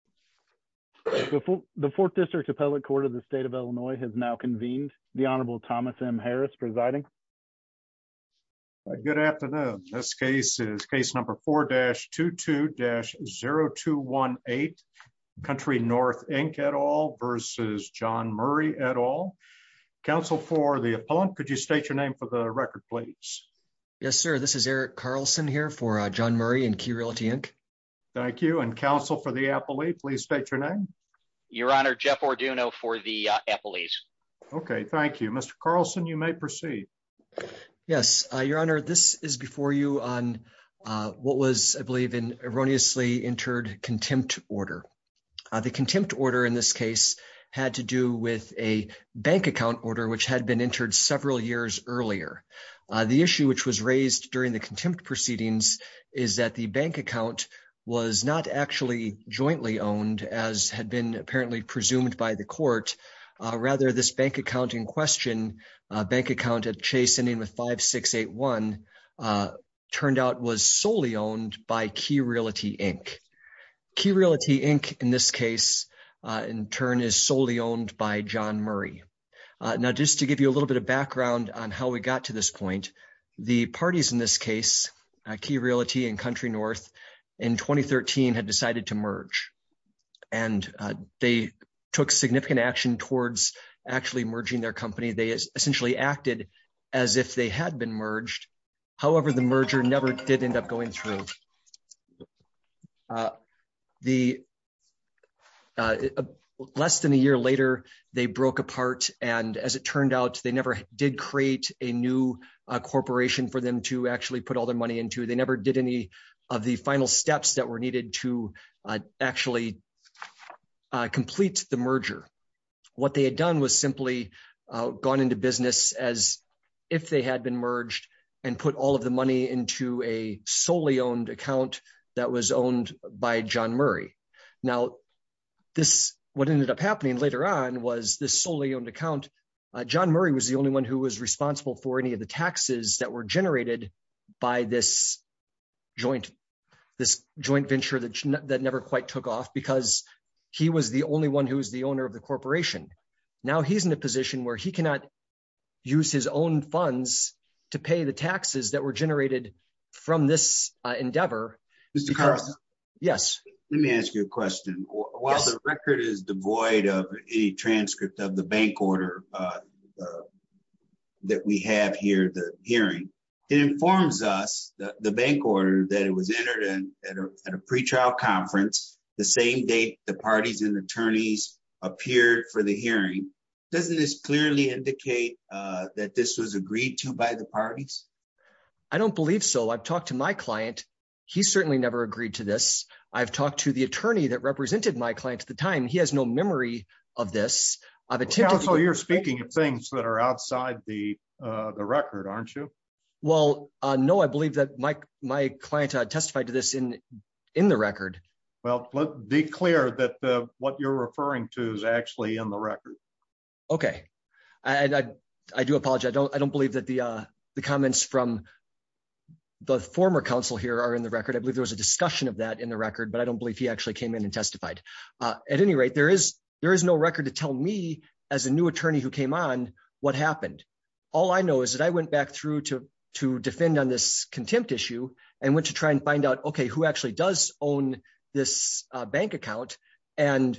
4-2-2-0218 v. Murry, Inc. Council for the Appellant, could you state your name for the record, please? Yes, sir. This is Eric Carlson here for John Murray and Key Realty, Inc. Thank you. And Council for the Appellee, please state your name. Your Honor, Jeff Orduno for the Appellees. Okay, thank you. Mr. Carlson, you may proceed. Yes, Your Honor, this is before you on what was, I believe, an erroneously entered contempt order. The contempt order in this case had to do with a bank account order which had been entered several years earlier. The issue which was raised during the contempt proceedings is that the bank account was not actually jointly owned, as had been apparently presumed by the court. Rather, this bank account in question, a bank account at Chase ending with 5681, turned out was solely owned by Key Realty, Inc. Key Realty, Inc., in this case, in turn, is solely owned by John Murray. Now, just to give you a little bit of background on how we got to this point, the parties in this case, Key Realty and Country North, in 2013 had decided to merge. And they took significant action towards actually merging their company. They essentially acted as if they had been merged. However, the merger never did end up going through. Less than a year later, they broke apart, and as it turned out, they never did create a new corporation for them to actually put all their money into. They never did any of the final steps that were needed to actually complete the merger. What they had done was simply gone into business as if they had been merged and put all of the money into a solely owned account that was owned by John Murray. Now, what ended up happening later on was this solely owned account, John Murray was the only one who was responsible for any of the taxes that were generated by this joint venture that never quite took off, because he was the only one who was the owner of the corporation. Now he's in a position where he cannot use his own funds to pay the taxes that were generated from this endeavor. Mr. Carlson? Yes. Let me ask you a question. While the record is devoid of any transcript of the bank order that we have here, the hearing, it informs us that the bank order that it was entered in at a pretrial conference, the same date the parties and attorneys appeared for the hearing. Doesn't this clearly indicate that this was agreed to by the parties? I don't believe so. I've talked to my client. He certainly never agreed to this. I've talked to the attorney that represented my client at the time. He has no memory of this. Counsel, you're speaking of things that are outside the record, aren't you? Well, no, I believe that my client testified to this in the record. Well, be clear that what you're referring to is actually in the record. Okay. I do apologize. I don't believe that the comments from the former counsel here are in the record. I believe there was a discussion of that in the record, but I don't believe he actually came in and testified. At any rate, there is no record to tell me as a new attorney who came on what happened. All I know is that I went back through to defend on this contempt issue and went to try and find out, okay, who actually does own this bank account. And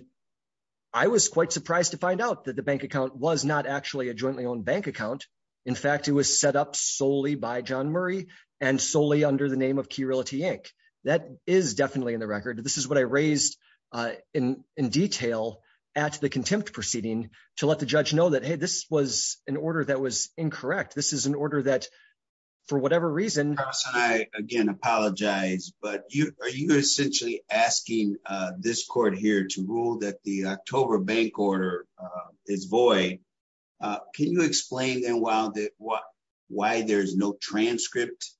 I was quite surprised to find out that the bank account was not actually a jointly owned bank account. In fact, it was set up solely by John Murray and solely under the name of Key Realty Inc. That is definitely in the record. This is what I raised in detail at the contempt proceeding to let the judge know that, hey, this was an order that was incorrect. This is an order that, for whatever reason. I, again, apologize, but you are you essentially asking this court here to rule that the October bank order is void. Can you explain why there's no transcript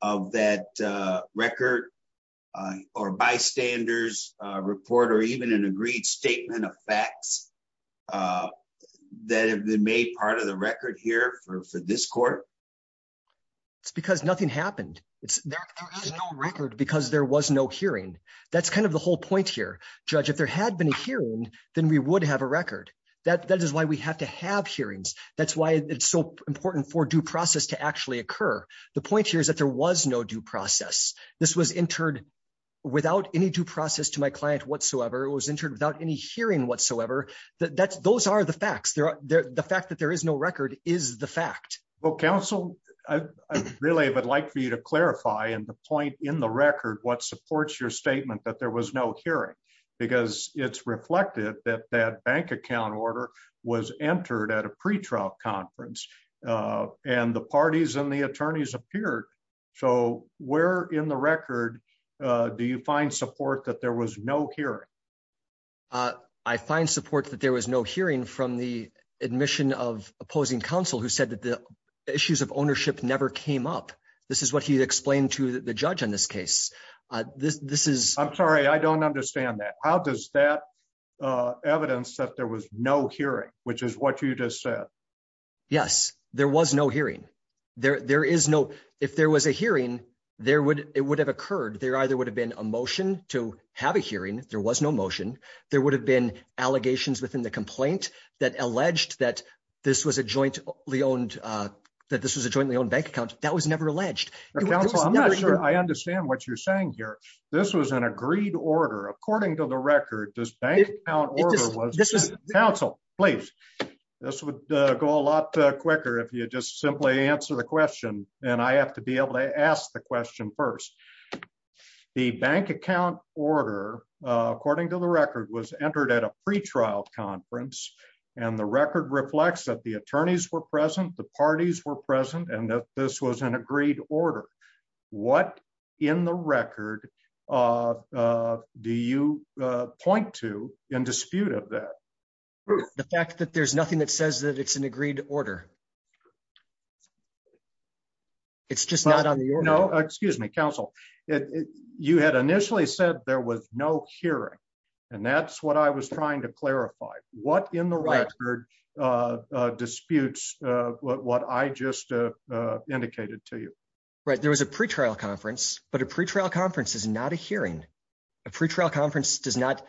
of that record or bystanders report or even an agreed statement of facts that have been made part of the record here for this court? It's because nothing happened. There is no record because there was no hearing. That's kind of the whole point here. Judge, if there had been a hearing, then we would have a record. That is why we have to have hearings. That's why it's so important for due process to actually occur. The point here is that there was no due process. This was entered without any due process to my client whatsoever. It was entered without any hearing whatsoever. Those are the facts. The fact that there is no record is the fact. Well, counsel, I really would like for you to clarify and the point in the record what supports your statement that there was no hearing, because it's reflected that that bank account order was entered at a pre trial conference. And the parties and the attorneys appeared. So, where in the record. Do you find support that there was no hearing. I find support that there was no hearing from the admission of opposing counsel who said that the issues of ownership never came up. This is what he explained to the judge in this case. This, this is, I'm sorry, I don't understand that. How does that evidence that there was no hearing, which is what you just said. Yes, there was no hearing. There is no. If there was a hearing, there would, it would have occurred there either would have been a motion to have a hearing, there was no motion, there would have been allegations within the complaint that alleged that this was a jointly owned that this was a jointly owned bank account that was never alleged. I understand what you're saying here. This was an agreed order according to the record does bank. Council, please. This would go a lot quicker if you just simply answer the question, and I have to be able to ask the question first. The bank account order. According to the record was entered at a pre trial conference, and the record reflects that the attorneys were present the parties were present and that this was an agreed order. What in the record. Do you point to in dispute of that. The fact that there's nothing that says that it's an agreed to order. It's just not on. No, excuse me, Council. It. You had initially said there was no hearing. And that's what I was trying to clarify what in the record disputes, what I just indicated to you. Right, there was a pre trial conference, but a pre trial conference is not a hearing a pre trial conference does not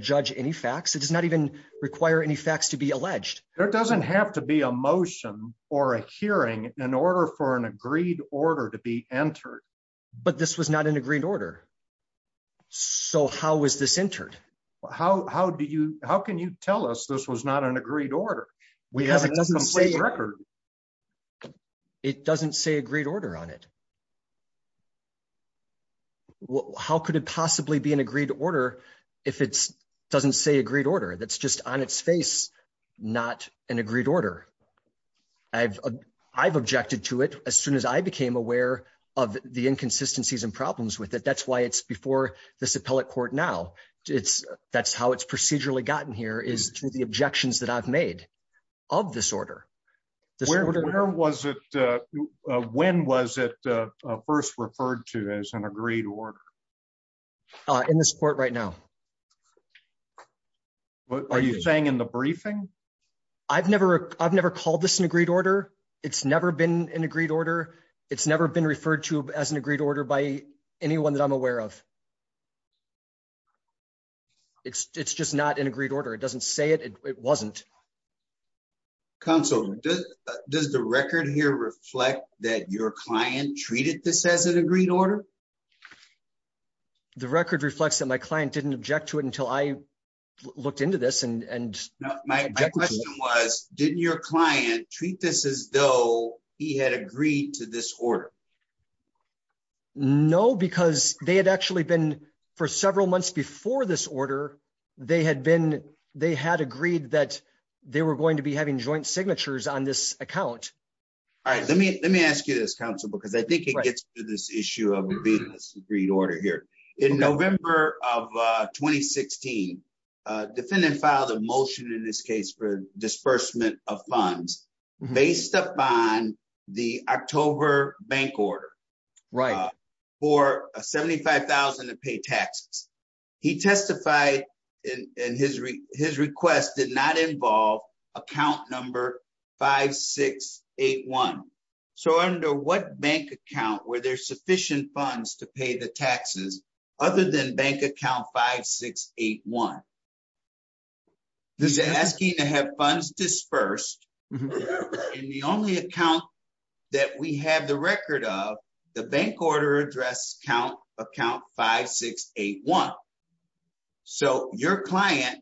judge any facts it does not even require any facts to be alleged, there doesn't have to be a motion. Or a hearing in order for an agreed order to be entered. But this was not an agreed order. So how was this entered. How do you, how can you tell us this was not an agreed order. We haven't seen record. It doesn't say agreed order on it. Well, how could it possibly be an agreed to order. If it's doesn't say agreed order that's just on its face, not an agreed order. I've, I've objected to it, as soon as I became aware of the inconsistencies and problems with it that's why it's before this appellate court now, it's, that's how it's procedurally gotten here is to the objections that I've made of this order. Was it. When was it first referred to as an agreed order in this court right now. What are you saying in the briefing. I've never, I've never called this an agreed order. It's never been an agreed order. It's never been referred to as an agreed order by anyone that I'm aware of. It's just not an agreed order it doesn't say it wasn't console. Does the record here reflect that your client treated this as an agreed order. The record reflects that my client didn't object to it until I looked into this and my question was, didn't your client treat this as though he had agreed to this order. No, because they had actually been for several months before this order. They had been, they had agreed that they were going to be having joint signatures on this account. All right, let me, let me ask you this council because I think it gets to this issue of being this agreed order here in November of 2016 defendant filed a motion in this case for disbursement of funds, based upon the October bank order. For 75,000 to pay taxes. He testified in his, his request did not involve account number 5681. So under what bank account where there's sufficient funds to pay the taxes, other than bank account 5681. This is asking to have funds dispersed in the only account that we have the record of the bank order address count account 5681. So, your client.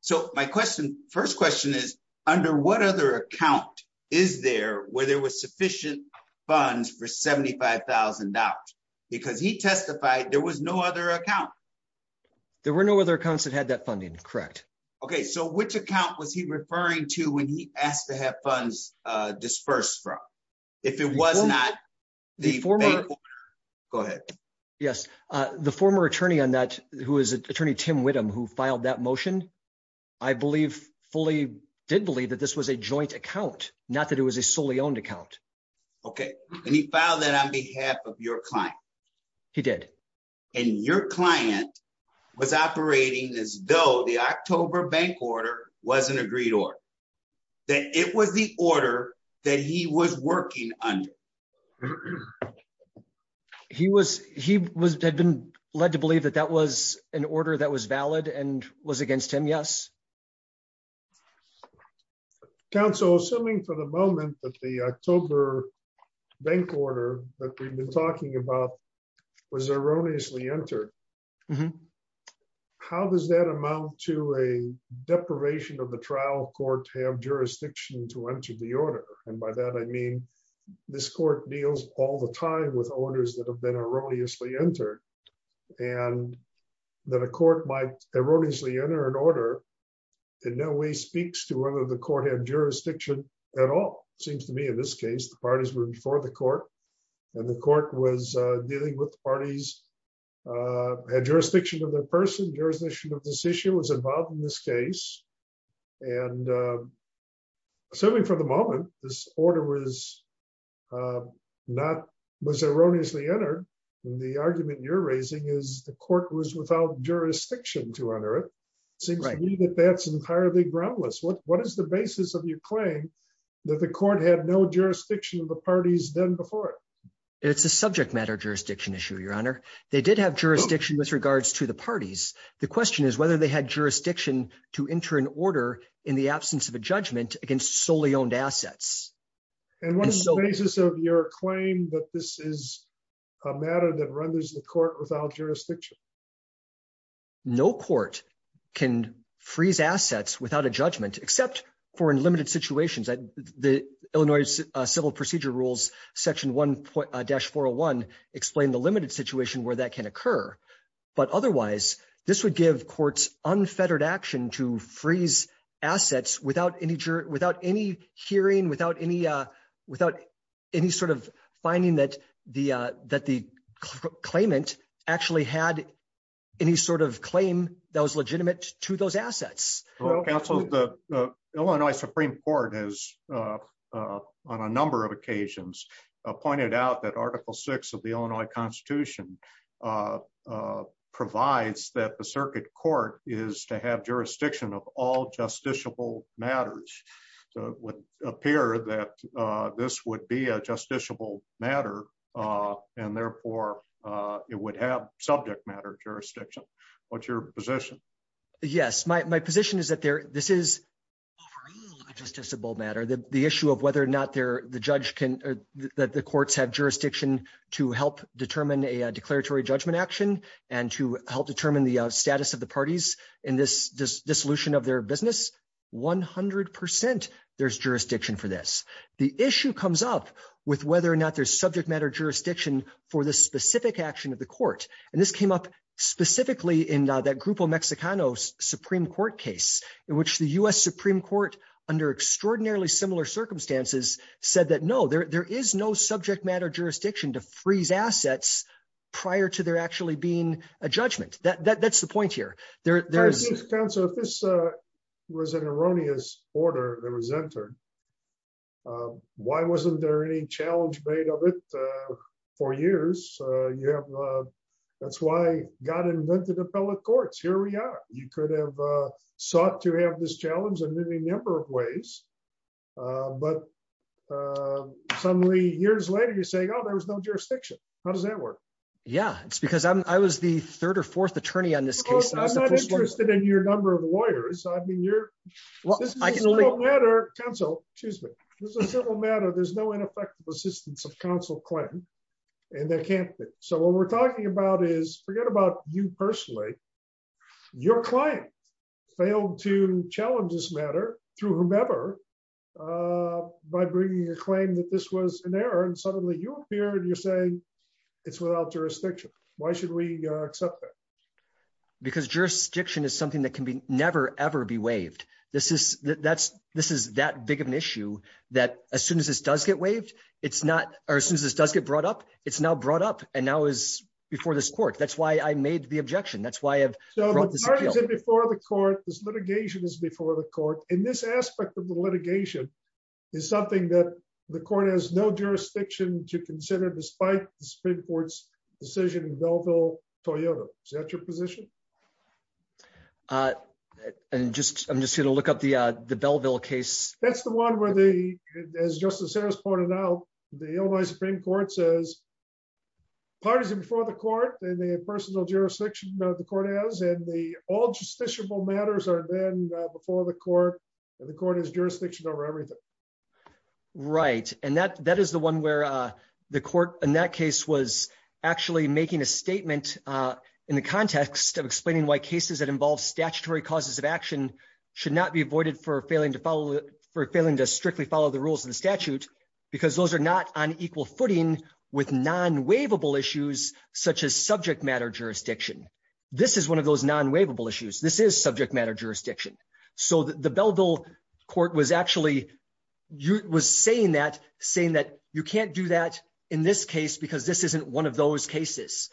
So, my question. First question is, under what other account is there where there was sufficient funds for $75,000, because he testified, there was no other account. There were no other accounts that had that funding. Correct. Okay, so which account was he referring to when he asked to have funds dispersed from. If it was not the former. Go ahead. Yes. The former attorney on that, who is an attorney Tim with him who filed that motion. I believe, fully did believe that this was a joint account, not that it was a solely owned account. Okay, and he found that on behalf of your client. He did. And your client was operating as though the October bank order wasn't agreed or that it was the order that he was working on. He was, he was been led to believe that that was an order that was valid and was against him yes. Council assuming for the moment that the October bank order that we've been talking about was erroneously entered. How does that amount to a deprivation of the trial court have jurisdiction to enter the order, and by that I mean, this court deals all the time with owners that have been erroneously entered. And that a court might erroneously enter an order. In no way speaks to whether the court had jurisdiction at all, seems to me in this case the parties were before the court, and the court was dealing with parties had jurisdiction to the person jurisdiction of this issue was involved in this case. And assuming for the moment, this order was not was erroneously entered. The argument you're raising is the court was without jurisdiction to honor it seems like that that's entirely groundless what what is the basis of your claim that the court had no jurisdiction of the parties done before. It's a subject matter jurisdiction issue Your Honor, they did have jurisdiction with regards to the parties. The question is whether they had jurisdiction to enter an order in the absence of a judgment against solely owned assets. And what is the basis of your claim that this is a matter that renders the court without jurisdiction. No court can freeze assets without a judgment, except for in limited situations that the Illinois civil procedure rules, section one dash 401, explain the limited situation where that can occur. But otherwise, this would give courts unfettered action to freeze assets without any without any hearing without any without any sort of finding that the that the claimant actually had any sort of claim that was legitimate to those assets. The Illinois Supreme Court has on a number of occasions pointed out that article six of the Illinois Constitution provides that the circuit court is to have jurisdiction of all justiciable matters would appear that this would be a justiciable matter. And therefore, it would have subject matter jurisdiction. What's your position. Yes, my position is that there. This is just just a bold matter that the issue of whether or not they're the judge can that the courts have jurisdiction to help determine a declaratory judgment action, and to help determine the status of the parties in this dissolution of their business 100% there's jurisdiction for this. The issue comes up with whether or not there's subject matter jurisdiction for this specific action of the court, and this came up specifically in that group of Mexicanos Supreme Court case in which the US Supreme was an erroneous order that was entered. Why wasn't there any challenge made of it for years, you have. That's why God invented appellate courts here we are, you could have sought to have this challenge and many number of ways. But suddenly, years later you're saying oh there was no jurisdiction. How does that work. Yeah, it's because I was the third or fourth attorney on this case. I'm not interested in your number of lawyers, I've been here. Council, excuse me, there's a civil matter there's no ineffective assistance of counsel claim. And that can't be. So what we're talking about is forget about you personally. Your client failed to challenge this matter through whomever by bringing a claim that this was an error and suddenly you appear and you're saying it's without jurisdiction. Why should we accept that. Because jurisdiction is something that can be never ever be waived. This is, that's, this is that big of an issue that as soon as this does get waived, it's not, or as soon as this does get brought up, it's now brought up, and now is before this court that's why I made the objection that's why I have before the court is litigation is before the court in this aspect of the litigation is something that the court has no jurisdiction to consider despite the Supreme Court's decision in Belleville, Toyota, such a position. And just, I'm just going to look up the, the Belleville case, that's the one where the as Justice Harris pointed out, the Supreme Court says partisan before the court and the personal jurisdiction of the court is and the all justiciable matters are then before the court. The court is jurisdiction over everything. Right, and that that is the one where the court in that case was actually making a statement in the context of explaining why cases that involve statutory causes of action should not be avoided for failing to follow for failing to strictly follow the rules of the statute, because those are not on equal footing with non waivable issues, such as subject matter jurisdiction. This is one of those non waivable issues this is subject matter jurisdiction. So the Belleville court was actually was saying that saying that you can't do that. In this case because this isn't one of those cases.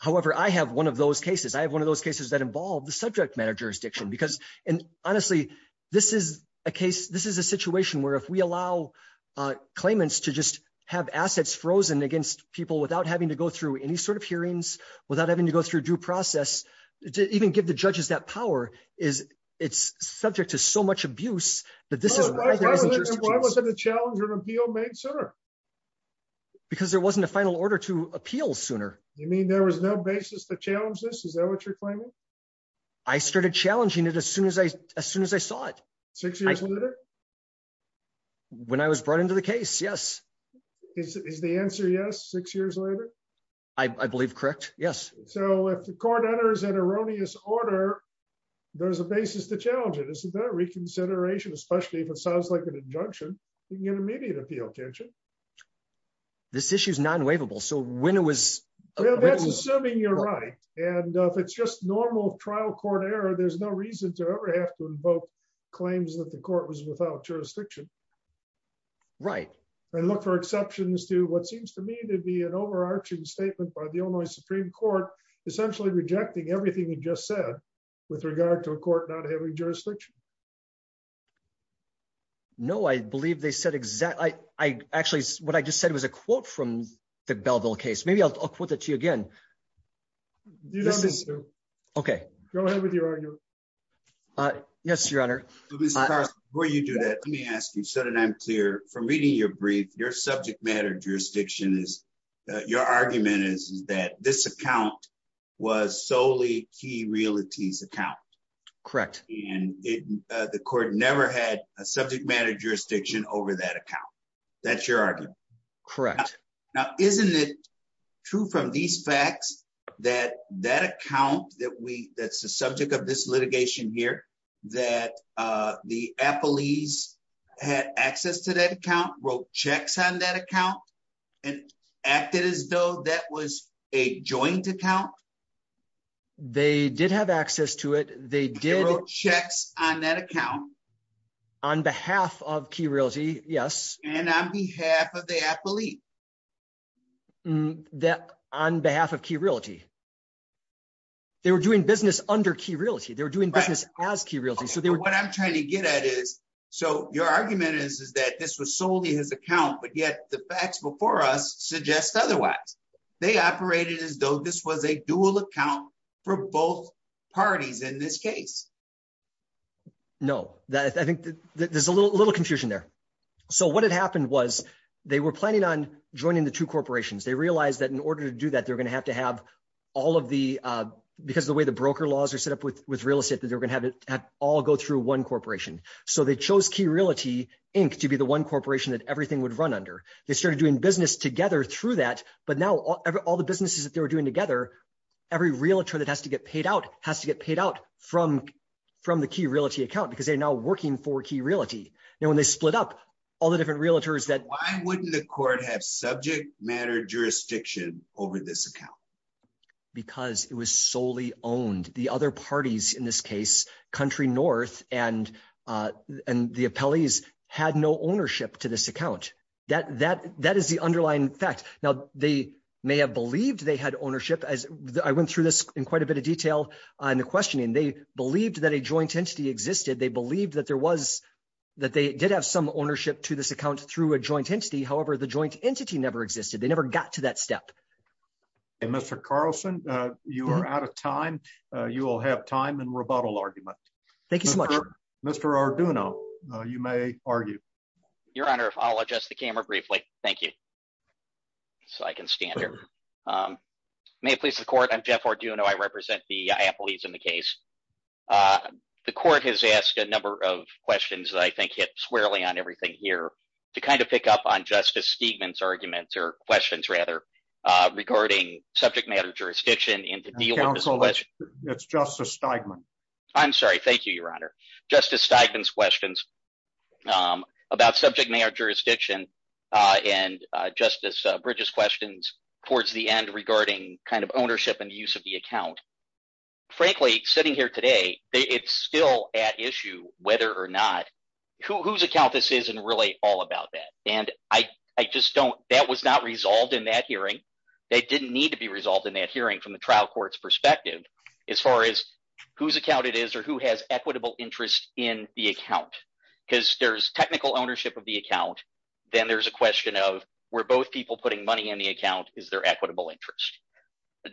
However, I have one of those cases I have one of those cases that involve the subject matter jurisdiction because, and honestly, this is a case, this is a situation where if we allow claimants to just have assets frozen against people without having to go through any sort of hearings, without having to go through due process to even give the judges that power is, it's subject to so much abuse that this is why wasn't a challenge or appeal made sooner. Because there wasn't a final order to appeal sooner, you mean there was no basis to challenge this is that what you're claiming. I started challenging it as soon as I, as soon as I saw it. Six years later, when I was brought into the case yes is the answer yes six years later. Yes. So if the court enters an erroneous order. There's a basis to challenge it isn't that reconsideration especially if it sounds like an injunction, you can get immediate appeal tension. This issue is non waivable so when it was assuming you're right, and if it's just normal trial court error there's no reason to ever have to invoke claims that the court was without jurisdiction. Right, and look for exceptions to what seems to me to be an overarching statement by the only Supreme Court, essentially rejecting everything you just said, with regard to a court not having jurisdiction. No, I believe they said exactly, I actually what I just said was a quote from the Belville case maybe I'll put that to you again. Okay, go ahead with your. Yes, Your Honor. Before you do that, let me ask you so that I'm clear from reading your brief your subject matter jurisdiction is your argument is that this account was solely key realities account. Correct. And the court never had a subject matter jurisdiction over that account. That's your argument. Correct. Now, isn't it true from these facts that that account that we, that's the subject of this case. This litigation here that the Apple ease had access to that account wrote checks on that account, and acted as though that was a joint account. They did have access to it, they did checks on that account. On behalf of key realty, yes, and on behalf of the athlete that on behalf of key realty. They were doing business under key realty they were doing business as key realty so they were what I'm trying to get at is. So, your argument is is that this was solely his account but yet the facts before us suggest otherwise. They operated as though this was a dual account for both parties in this case. No, that I think that there's a little little confusion there. So what had happened was they were planning on joining the two corporations they realized that in order to do that they're going to have to have all of the, because the way the broker laws are set up with with real estate that they're going to have it all go through one corporation. So they chose key realty, Inc, to be the one corporation that everything would run under, they started doing business together through that, but now all the businesses that they were doing together. Every realtor that has to get paid out has to get paid out from from the key realty account because they're now working for key realty, you know when they split up all the different realtors that wouldn't the court have subject matter jurisdiction over this account. Because it was solely owned the other parties in this case, country north, and, and the appellees had no ownership to this account that that that is the underlying fact. Now, they may have believed they had ownership as I went through this in quite a bit of detail on the questioning they believed that a joint entity existed they believed that there was that they did have some ownership to this account through a joint entity however the joint entity never existed they never got to that step. And Mr Carlson, you are out of time, you will have time and rebuttal argument. Thank you so much, Mr Arduino, you may argue your honor if I'll adjust the camera briefly. Thank you. So I can stand here. May it please the court I'm Jeff Arduino I represent the appellees in the case. The court has asked a number of questions that I think hit squarely on everything here to kind of pick up on Justice Stevens arguments or questions rather regarding subject matter jurisdiction into the council but it's just a statement. I'm sorry, thank you, Your Honor, Justice Steigman's questions about subject matter jurisdiction, and Justice Bridges questions towards the end regarding kind of ownership and use of the account. Frankly, sitting here today, it's still at issue, whether or not, whose account this is and really all about that, and I just don't that was not resolved in that hearing. They didn't need to be resolved in that hearing from the trial courts perspective, as far as whose account it is or who has equitable interest in the account, because there's technical ownership of the account. Then there's a question of where both people putting money in the account, is there equitable interest.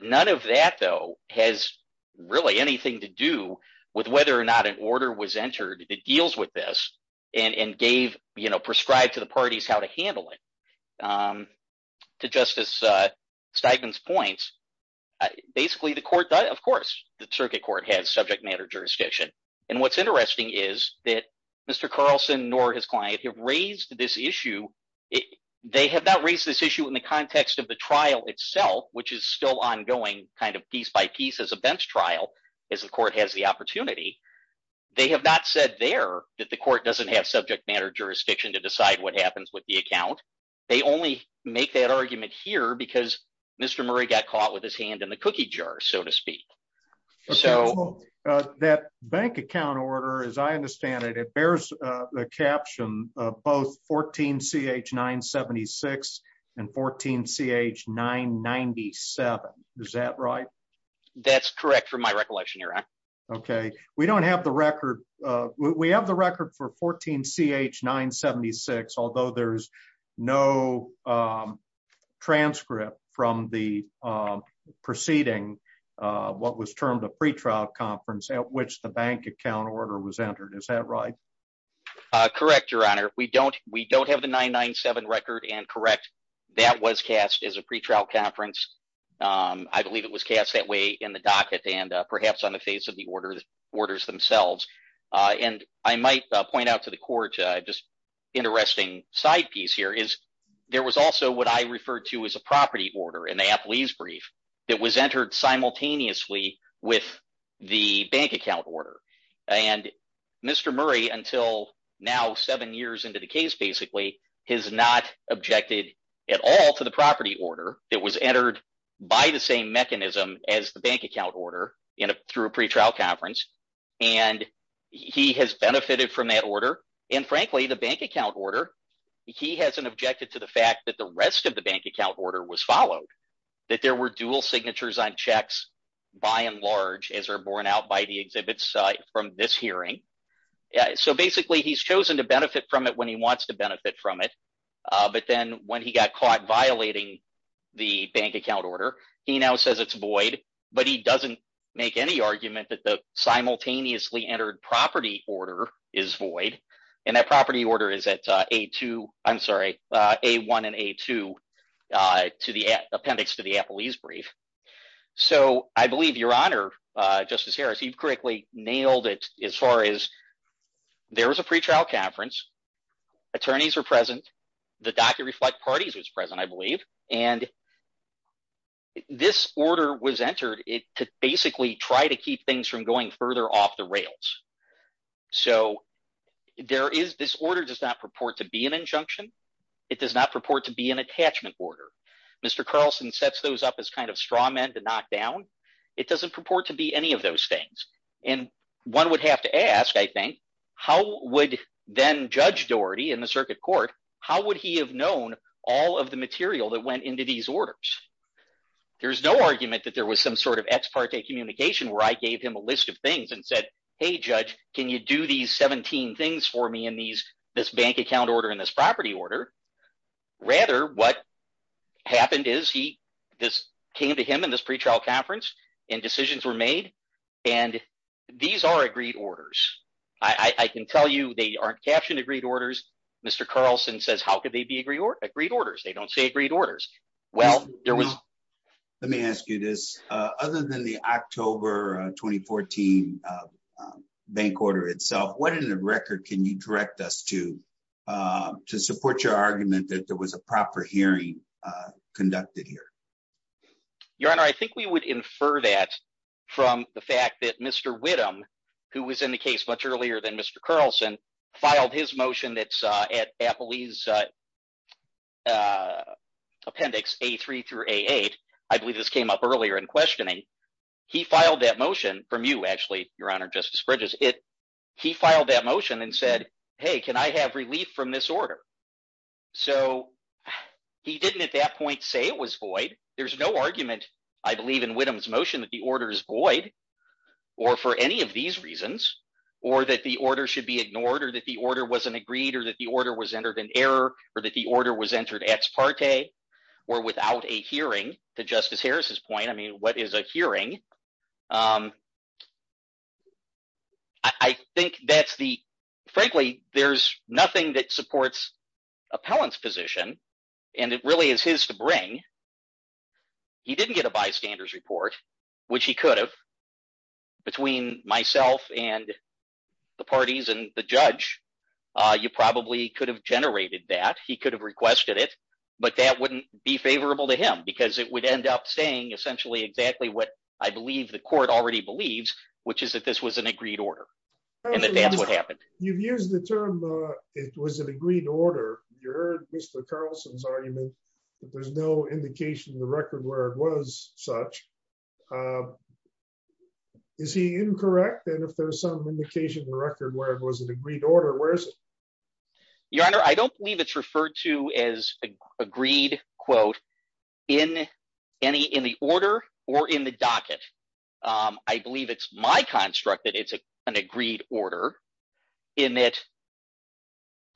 None of that, though, has really anything to do with whether or not an order was entered that deals with this and gave you know prescribed to the parties how to handle it. To Justice Steigman's points, basically the court – of course, the circuit court has subject matter jurisdiction. And what's interesting is that Mr. Carlson nor his client have raised this issue. They have not raised this issue in the context of the trial itself, which is still ongoing kind of piece by piece as a bench trial as the court has the opportunity. They have not said there that the court doesn't have subject matter jurisdiction to decide what happens with the account. They only make that argument here because Mr. Murray got caught with his hand in the cookie jar, so to speak. So, that bank account order, as I understand it, it bears the caption of both 14 CH 976 and 14 CH 997. Is that right? That's correct for my recollection, Your Honor. Okay. We don't have the record. We have the record for 14 CH 976, although there's no transcript from the preceding what was termed a pretrial conference at which the bank account order was entered. Is that right? Correct, Your Honor. We don't have the 997 record, and correct, that was cast as a pretrial conference. I believe it was cast that way in the docket and perhaps on the face of the orders themselves. And I might point out to the court just interesting side piece here is there was also what I referred to as a property order in the appellee's brief that was entered simultaneously with the bank account order. And Mr. Murray, until now, seven years into the case basically, has not objected at all to the property order that was entered by the same mechanism as the bank account order through a pretrial conference. And he has benefited from that order, and frankly, the bank account order, he hasn't objected to the fact that the rest of the bank account order was followed, that there were dual signatures on checks by and large as are borne out by the exhibits from this hearing. So basically, he's chosen to benefit from it when he wants to benefit from it, but then when he got caught violating the bank account order, he now says it's void, but he doesn't make any argument that the simultaneously entered property order is void. And that property order is at A1 and A2 to the appendix to the appellee's brief. So I believe Your Honor, Justice Harris, you've correctly nailed it as far as there was a pretrial conference. Attorneys were present. The docket reflect parties was present, I believe, and this order was entered to basically try to keep things from going further off the rails. So there is – this order does not purport to be an injunction. It does not purport to be an attachment order. Mr. Carlson sets those up as kind of straw men to knock down. It doesn't purport to be any of those things. And one would have to ask, I think, how would then Judge Doherty in the circuit court, how would he have known all of the material that went into these orders? There's no argument that there was some sort of ex parte communication where I gave him a list of things and said, hey, Judge, can you do these 17 things for me in this bank account order and this property order? Rather, what happened is he – this came to him in this pretrial conference, and decisions were made, and these are agreed orders. I can tell you they aren't captioned agreed orders. Mr. Carlson says how could they be agreed orders? They don't say agreed orders. Let me ask you this. Other than the October 2014 bank order itself, what in the record can you direct us to to support your argument that there was a proper hearing conducted here? Your Honor, I think we would infer that from the fact that Mr. Widom, who was in the case much earlier than Mr. Carlson, filed his motion that's at Appley's Appendix A3 through A8. I believe this came up earlier in questioning. He filed that motion from you, actually, Your Honor, Justice Bridges. He filed that motion and said, hey, can I have relief from this order? So he didn't at that point say it was void. There's no argument, I believe, in Widom's motion that the order is void or for any of these reasons or that the order should be ignored or that the order wasn't agreed or that the order was entered in error or that the order was entered ex parte or without a hearing. To Justice Harris's point, I mean, what is a hearing? I think that's the – frankly, there's nothing that supports appellant's position, and it really is his to bring. He didn't get a bystander's report, which he could have. Between myself and the parties and the judge, you probably could have generated that. He could have requested it, but that wouldn't be favorable to him because it would end up saying essentially exactly what I believe the court already believes, which is that this was an agreed order and that that's what happened. You've used the term it was an agreed order. You heard Mr. Carlson's argument that there's no indication in the record where it was such. Is he incorrect? And if there's some indication in the record where it was an agreed order, where is it? Your Honor, I don't believe it's referred to as agreed, quote, in any – in the order or in the docket. I believe it's my construct that it's an agreed order in that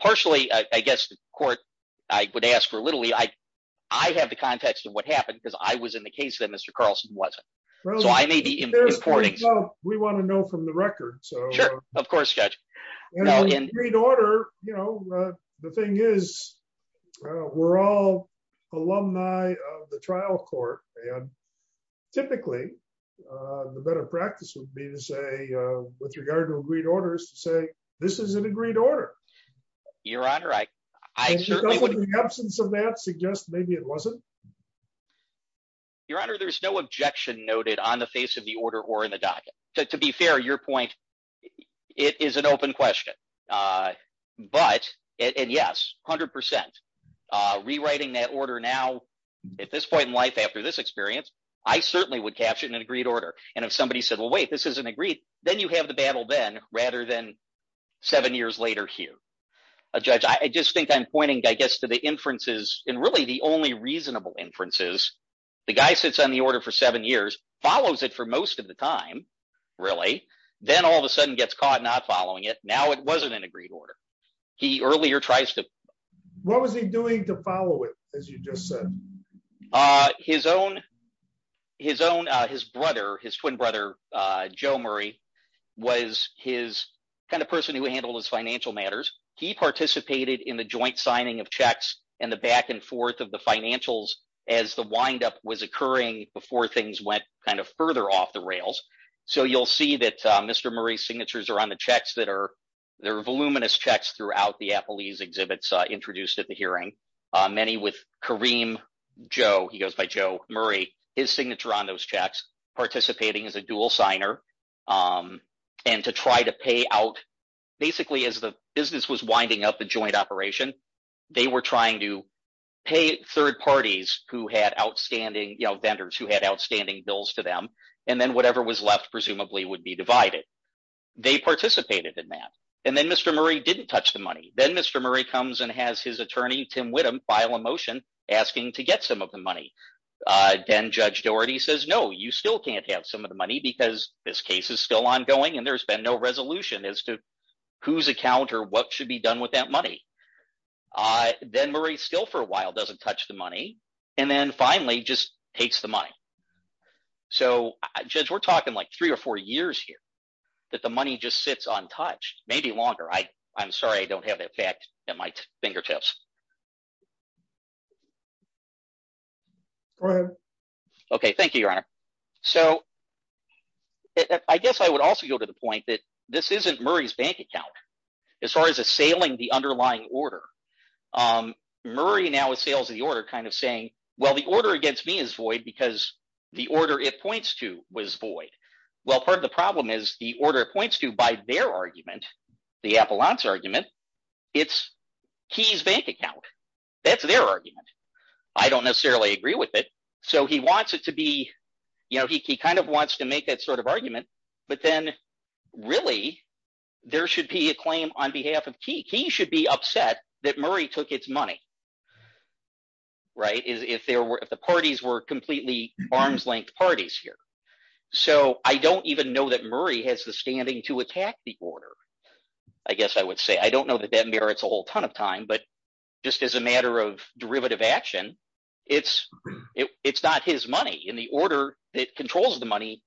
partially, I guess, the court – I would ask for literally – I have the context of what happened because I was in the case that Mr. Carlson wasn't. We want to know from the record. Sure, of course, Judge. In an agreed order, you know, the thing is we're all alumni of the trial court and typically the better practice would be to say with regard to agreed orders to say this is an agreed order. Your Honor, I certainly would – In the absence of that, suggest maybe it wasn't. Your Honor, there's no objection noted on the face of the order or in the docket. To be fair, your point, it is an open question, but – and yes, 100%. Rewriting that order now at this point in life after this experience, I certainly would catch it in an agreed order. And if somebody said, well, wait, this isn't agreed, then you have the battle then rather than seven years later here. Judge, I just think I'm pointing, I guess, to the inferences and really the only reasonable inferences. The guy sits on the order for seven years, follows it for most of the time really, then all of a sudden gets caught not following it. Now it wasn't an agreed order. He earlier tries to – What was he doing to follow it as you just said? His own – his brother, his twin brother, Joe Murray, was his kind of person who handled his financial matters. He participated in the joint signing of checks and the back and forth of the financials as the windup was occurring before things went kind of further off the rails. So you'll see that Mr. Murray's signatures are on the checks that are – there are voluminous checks throughout the Appleese exhibits introduced at the hearing. Many with Kareem Joe. He goes by Joe Murray. His signature on those checks, participating as a dual signer and to try to pay out basically as the business was winding up the joint operation. They were trying to pay third parties who had outstanding vendors who had outstanding bills to them, and then whatever was left presumably would be divided. They participated in that, and then Mr. Murray didn't touch the money. Then Mr. Murray comes and has his attorney, Tim Widom, file a motion asking to get some of the money. Then Judge Doherty says, no, you still can't have some of the money because this case is still ongoing, and there's been no resolution as to whose account or what should be done with that money. Then Murray still for a while doesn't touch the money, and then finally just takes the money. So Judge, we're talking like three or four years here that the money just sits untouched, maybe longer. I'm sorry I don't have that fact at my fingertips. Go ahead. Okay, thank you, Your Honor. So I guess I would also go to the point that this isn't Murray's bank account. As far as assailing the underlying order, Murray now assails the order kind of saying, well, the order against me is void because the order it points to was void. Well, part of the problem is the order it points to by their argument, the Appelant's argument, it's Key's bank account. That's their argument. I don't necessarily agree with it, so he wants it to be – he kind of wants to make that sort of argument, but then really there should be a claim on behalf of Key. Key should be upset that Murray took its money if the parties were completely arms-length parties here. So I don't even know that Murray has the standing to attack the order, I guess I would say. I don't know that that merits a whole ton of time, but just as a matter of derivative action, it's not his money. And the order that controls the money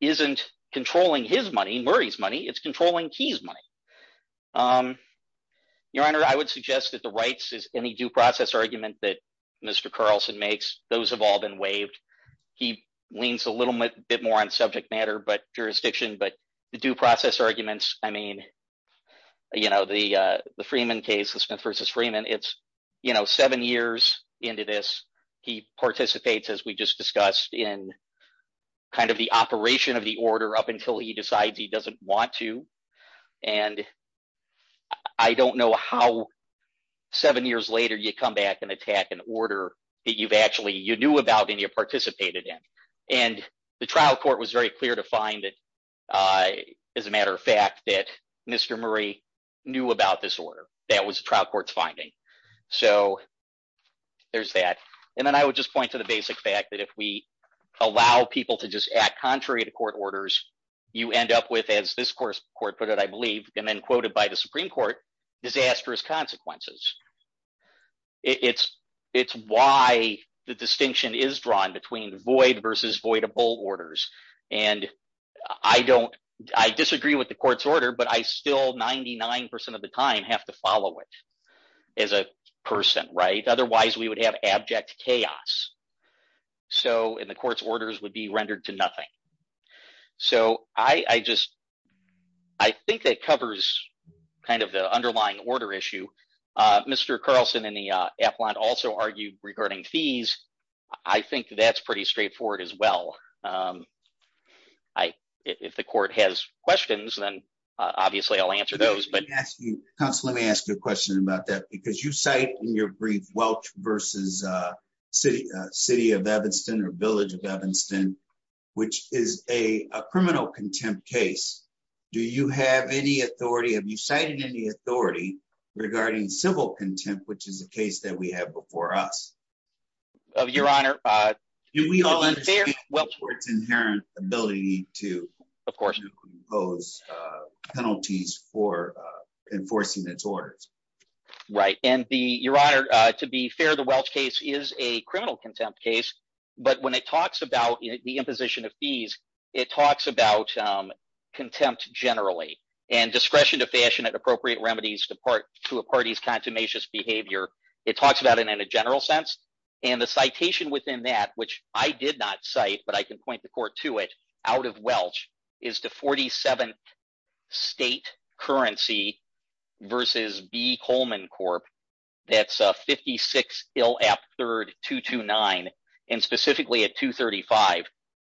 isn't controlling his money, Murray's money. It's controlling Key's money. Your Honor, I would suggest that the rights as any due process argument that Mr. Carlson makes, those have all been waived. He leans a little bit more on subject matter but jurisdiction, but the due process arguments, I mean the Freeman case, the Smith v. Freeman, it's seven years into this. He participates, as we just discussed, in kind of the operation of the order up until he decides he doesn't want to. And I don't know how seven years later you come back and attack an order that you've actually – you knew about and you participated in. And the trial court was very clear to find that, as a matter of fact, that Mr. Murray knew about this order. That was the trial court's finding. So there's that. And then I would just point to the basic fact that if we allow people to just act contrary to court orders, you end up with, as this court put it, I believe, and then quoted by the Supreme Court, disastrous consequences. It's why the distinction is drawn between void versus voidable orders. And I don't – I disagree with the court's order, but I still, 99% of the time, have to follow it as a person. Otherwise, we would have abject chaos, and the court's orders would be rendered to nothing. So I just – I think that covers kind of the underlying order issue. Mr. Carlson and the appellant also argued regarding fees. I think that's pretty straightforward as well. If the court has questions, then obviously I'll answer those. Counsel, let me ask you a question about that because you cite in your brief Welch versus City of Evanston or Village of Evanston, which is a criminal contempt case. Do you have any authority – have you cited any authority regarding civil contempt, which is a case that we have before us? Your Honor – Do we all understand the court's inherent ability to impose penalties for enforcing its orders? Right, and your Honor, to be fair, the Welch case is a criminal contempt case. But when it talks about the imposition of fees, it talks about contempt generally and discretion to fashion and appropriate remedies to a party's contumacious behavior. It talks about it in a general sense, and the citation within that, which I did not cite but I can point the court to it out of Welch, is the 47th state currency versus B. Coleman Corp. That's 56 Ill App 3rd 229 and specifically at 235.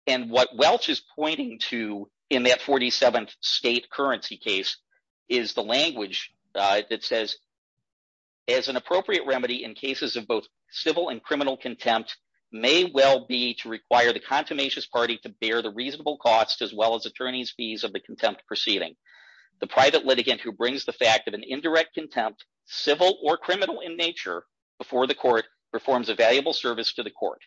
And what Welch is pointing to in that 47th state currency case is the language that says, as an appropriate remedy in cases of both civil and criminal contempt may well be to require the contumacious party to bear the reasonable cost as well as attorney's fees of the contempt proceeding. The private litigant who brings the fact of an indirect contempt, civil or criminal in nature, before the court performs a valuable service to the court.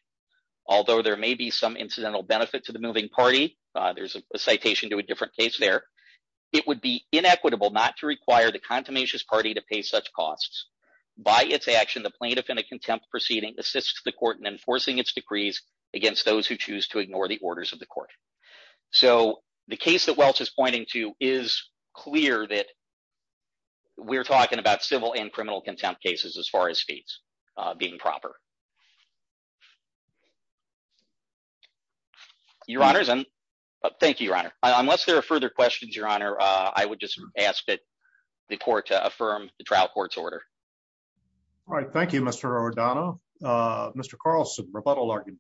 Although there may be some incidental benefit to the moving party – there's a citation to a different case there – it would be inequitable not to require the contumacious party to pay such costs. By its action, the plaintiff in a contempt proceeding assists the court in enforcing its decrees against those who choose to ignore the orders of the court. So the case that Welch is pointing to is clear that we're talking about civil and criminal contempt cases as far as fees being proper. Your Honor, thank you, Your Honor. Unless there are further questions, Your Honor, I would just ask that the court affirm the trial court's order. All right. Thank you, Mr. O'Donohue. Mr. Carlson, rebuttal argument.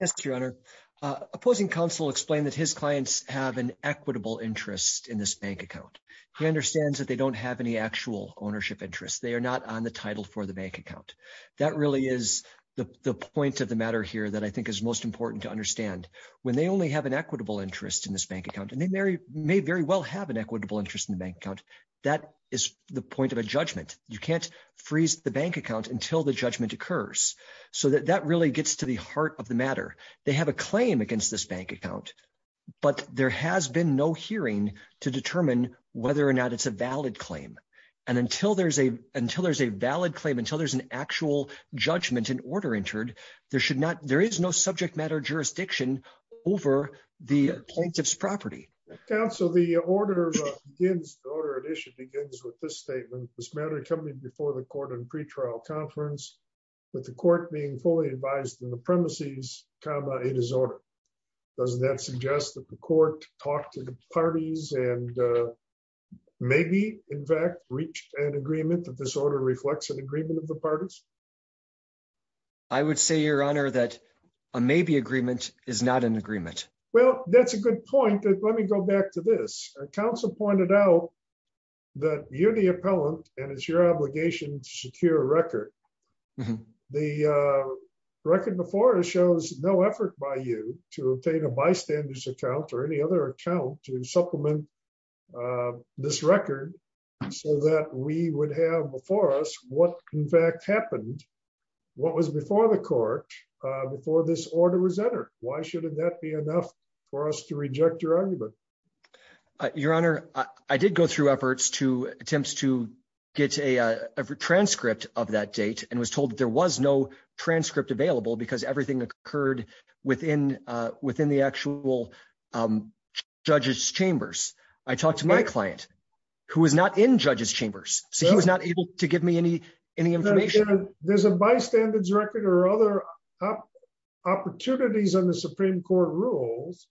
Yes, Your Honor. Opposing counsel explained that his clients have an equitable interest in this bank account. He understands that they don't have any actual ownership interest. They are not on the title for the bank account. That really is the point of the matter here that I think is most important to understand. When they only have an equitable interest in this bank account, and they may very well have an equitable interest in the bank account, that is the point of a judgment. You can't freeze the bank account until the judgment occurs. So that really gets to the heart of the matter. They have a claim against this bank account, but there has been no hearing to determine whether or not it's a valid claim. And until there's a valid claim, until there's an actual judgment, an order entered, there is no subject matter jurisdiction over the plaintiff's property. Counsel, the order begins, the order at issue begins with this statement. This matter accompanied before the court in pretrial conference, with the court being fully advised in the premises, comma, it is ordered. Does that suggest that the court talked to the parties and maybe, in fact, reached an agreement that this order reflects an agreement of the parties? I would say, Your Honor, that a maybe agreement is not an agreement. Well, that's a good point. Let me go back to this. Counsel pointed out that you're the appellant and it's your obligation to secure a record. The record before us shows no effort by you to obtain a bystander's account or any other account to supplement this record so that we would have before us what, in fact, happened. What was before the court before this order was entered? Why should that be enough for us to reject your argument? Your Honor, I did go through efforts to attempts to get a transcript of that date and was told that there was no transcript available because everything occurred within within the actual judges chambers. I talked to my client, who was not in judges chambers, so he was not able to give me any any information. There's a bystander's record or other opportunities on the Supreme Court rules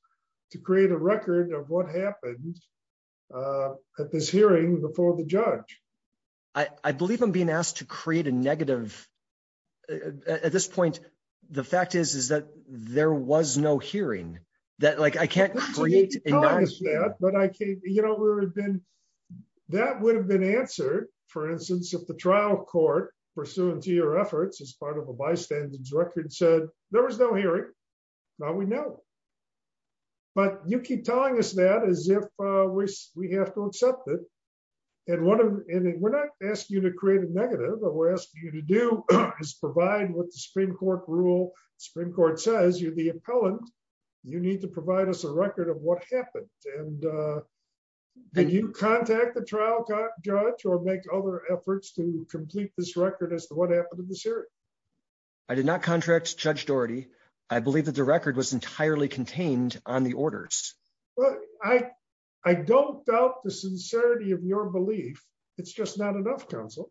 to create a record of what happened at this hearing before the judge. I believe I'm being asked to create a negative. At this point, the fact is, is that there was no hearing that, like, I can't create a negative. You know, that would have been answered, for instance, if the trial court pursuant to your efforts as part of a bystander's record said there was no hearing. Now we know. But you keep telling us that as if we have to accept it. We're not asking you to create a negative, but we're asking you to do is provide with the Supreme Court rule. Supreme Court says you're the appellant. You need to provide us a record of what happened. Did you contact the trial judge or make other efforts to complete this record as to what happened in this hearing? I did not contract Judge Doherty. I believe that the record was entirely contained on the orders. Well, I, I don't doubt the sincerity of your belief. It's just not enough counsel.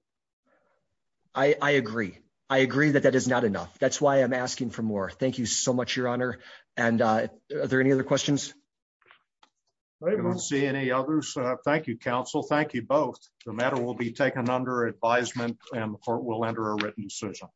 I agree. I agree that that is not enough. That's why I'm asking for more. Thank you so much, Your Honor. And are there any other questions. I don't see any others. Thank you, counsel. Thank you both. The matter will be taken under advisement and the court will enter a written decision.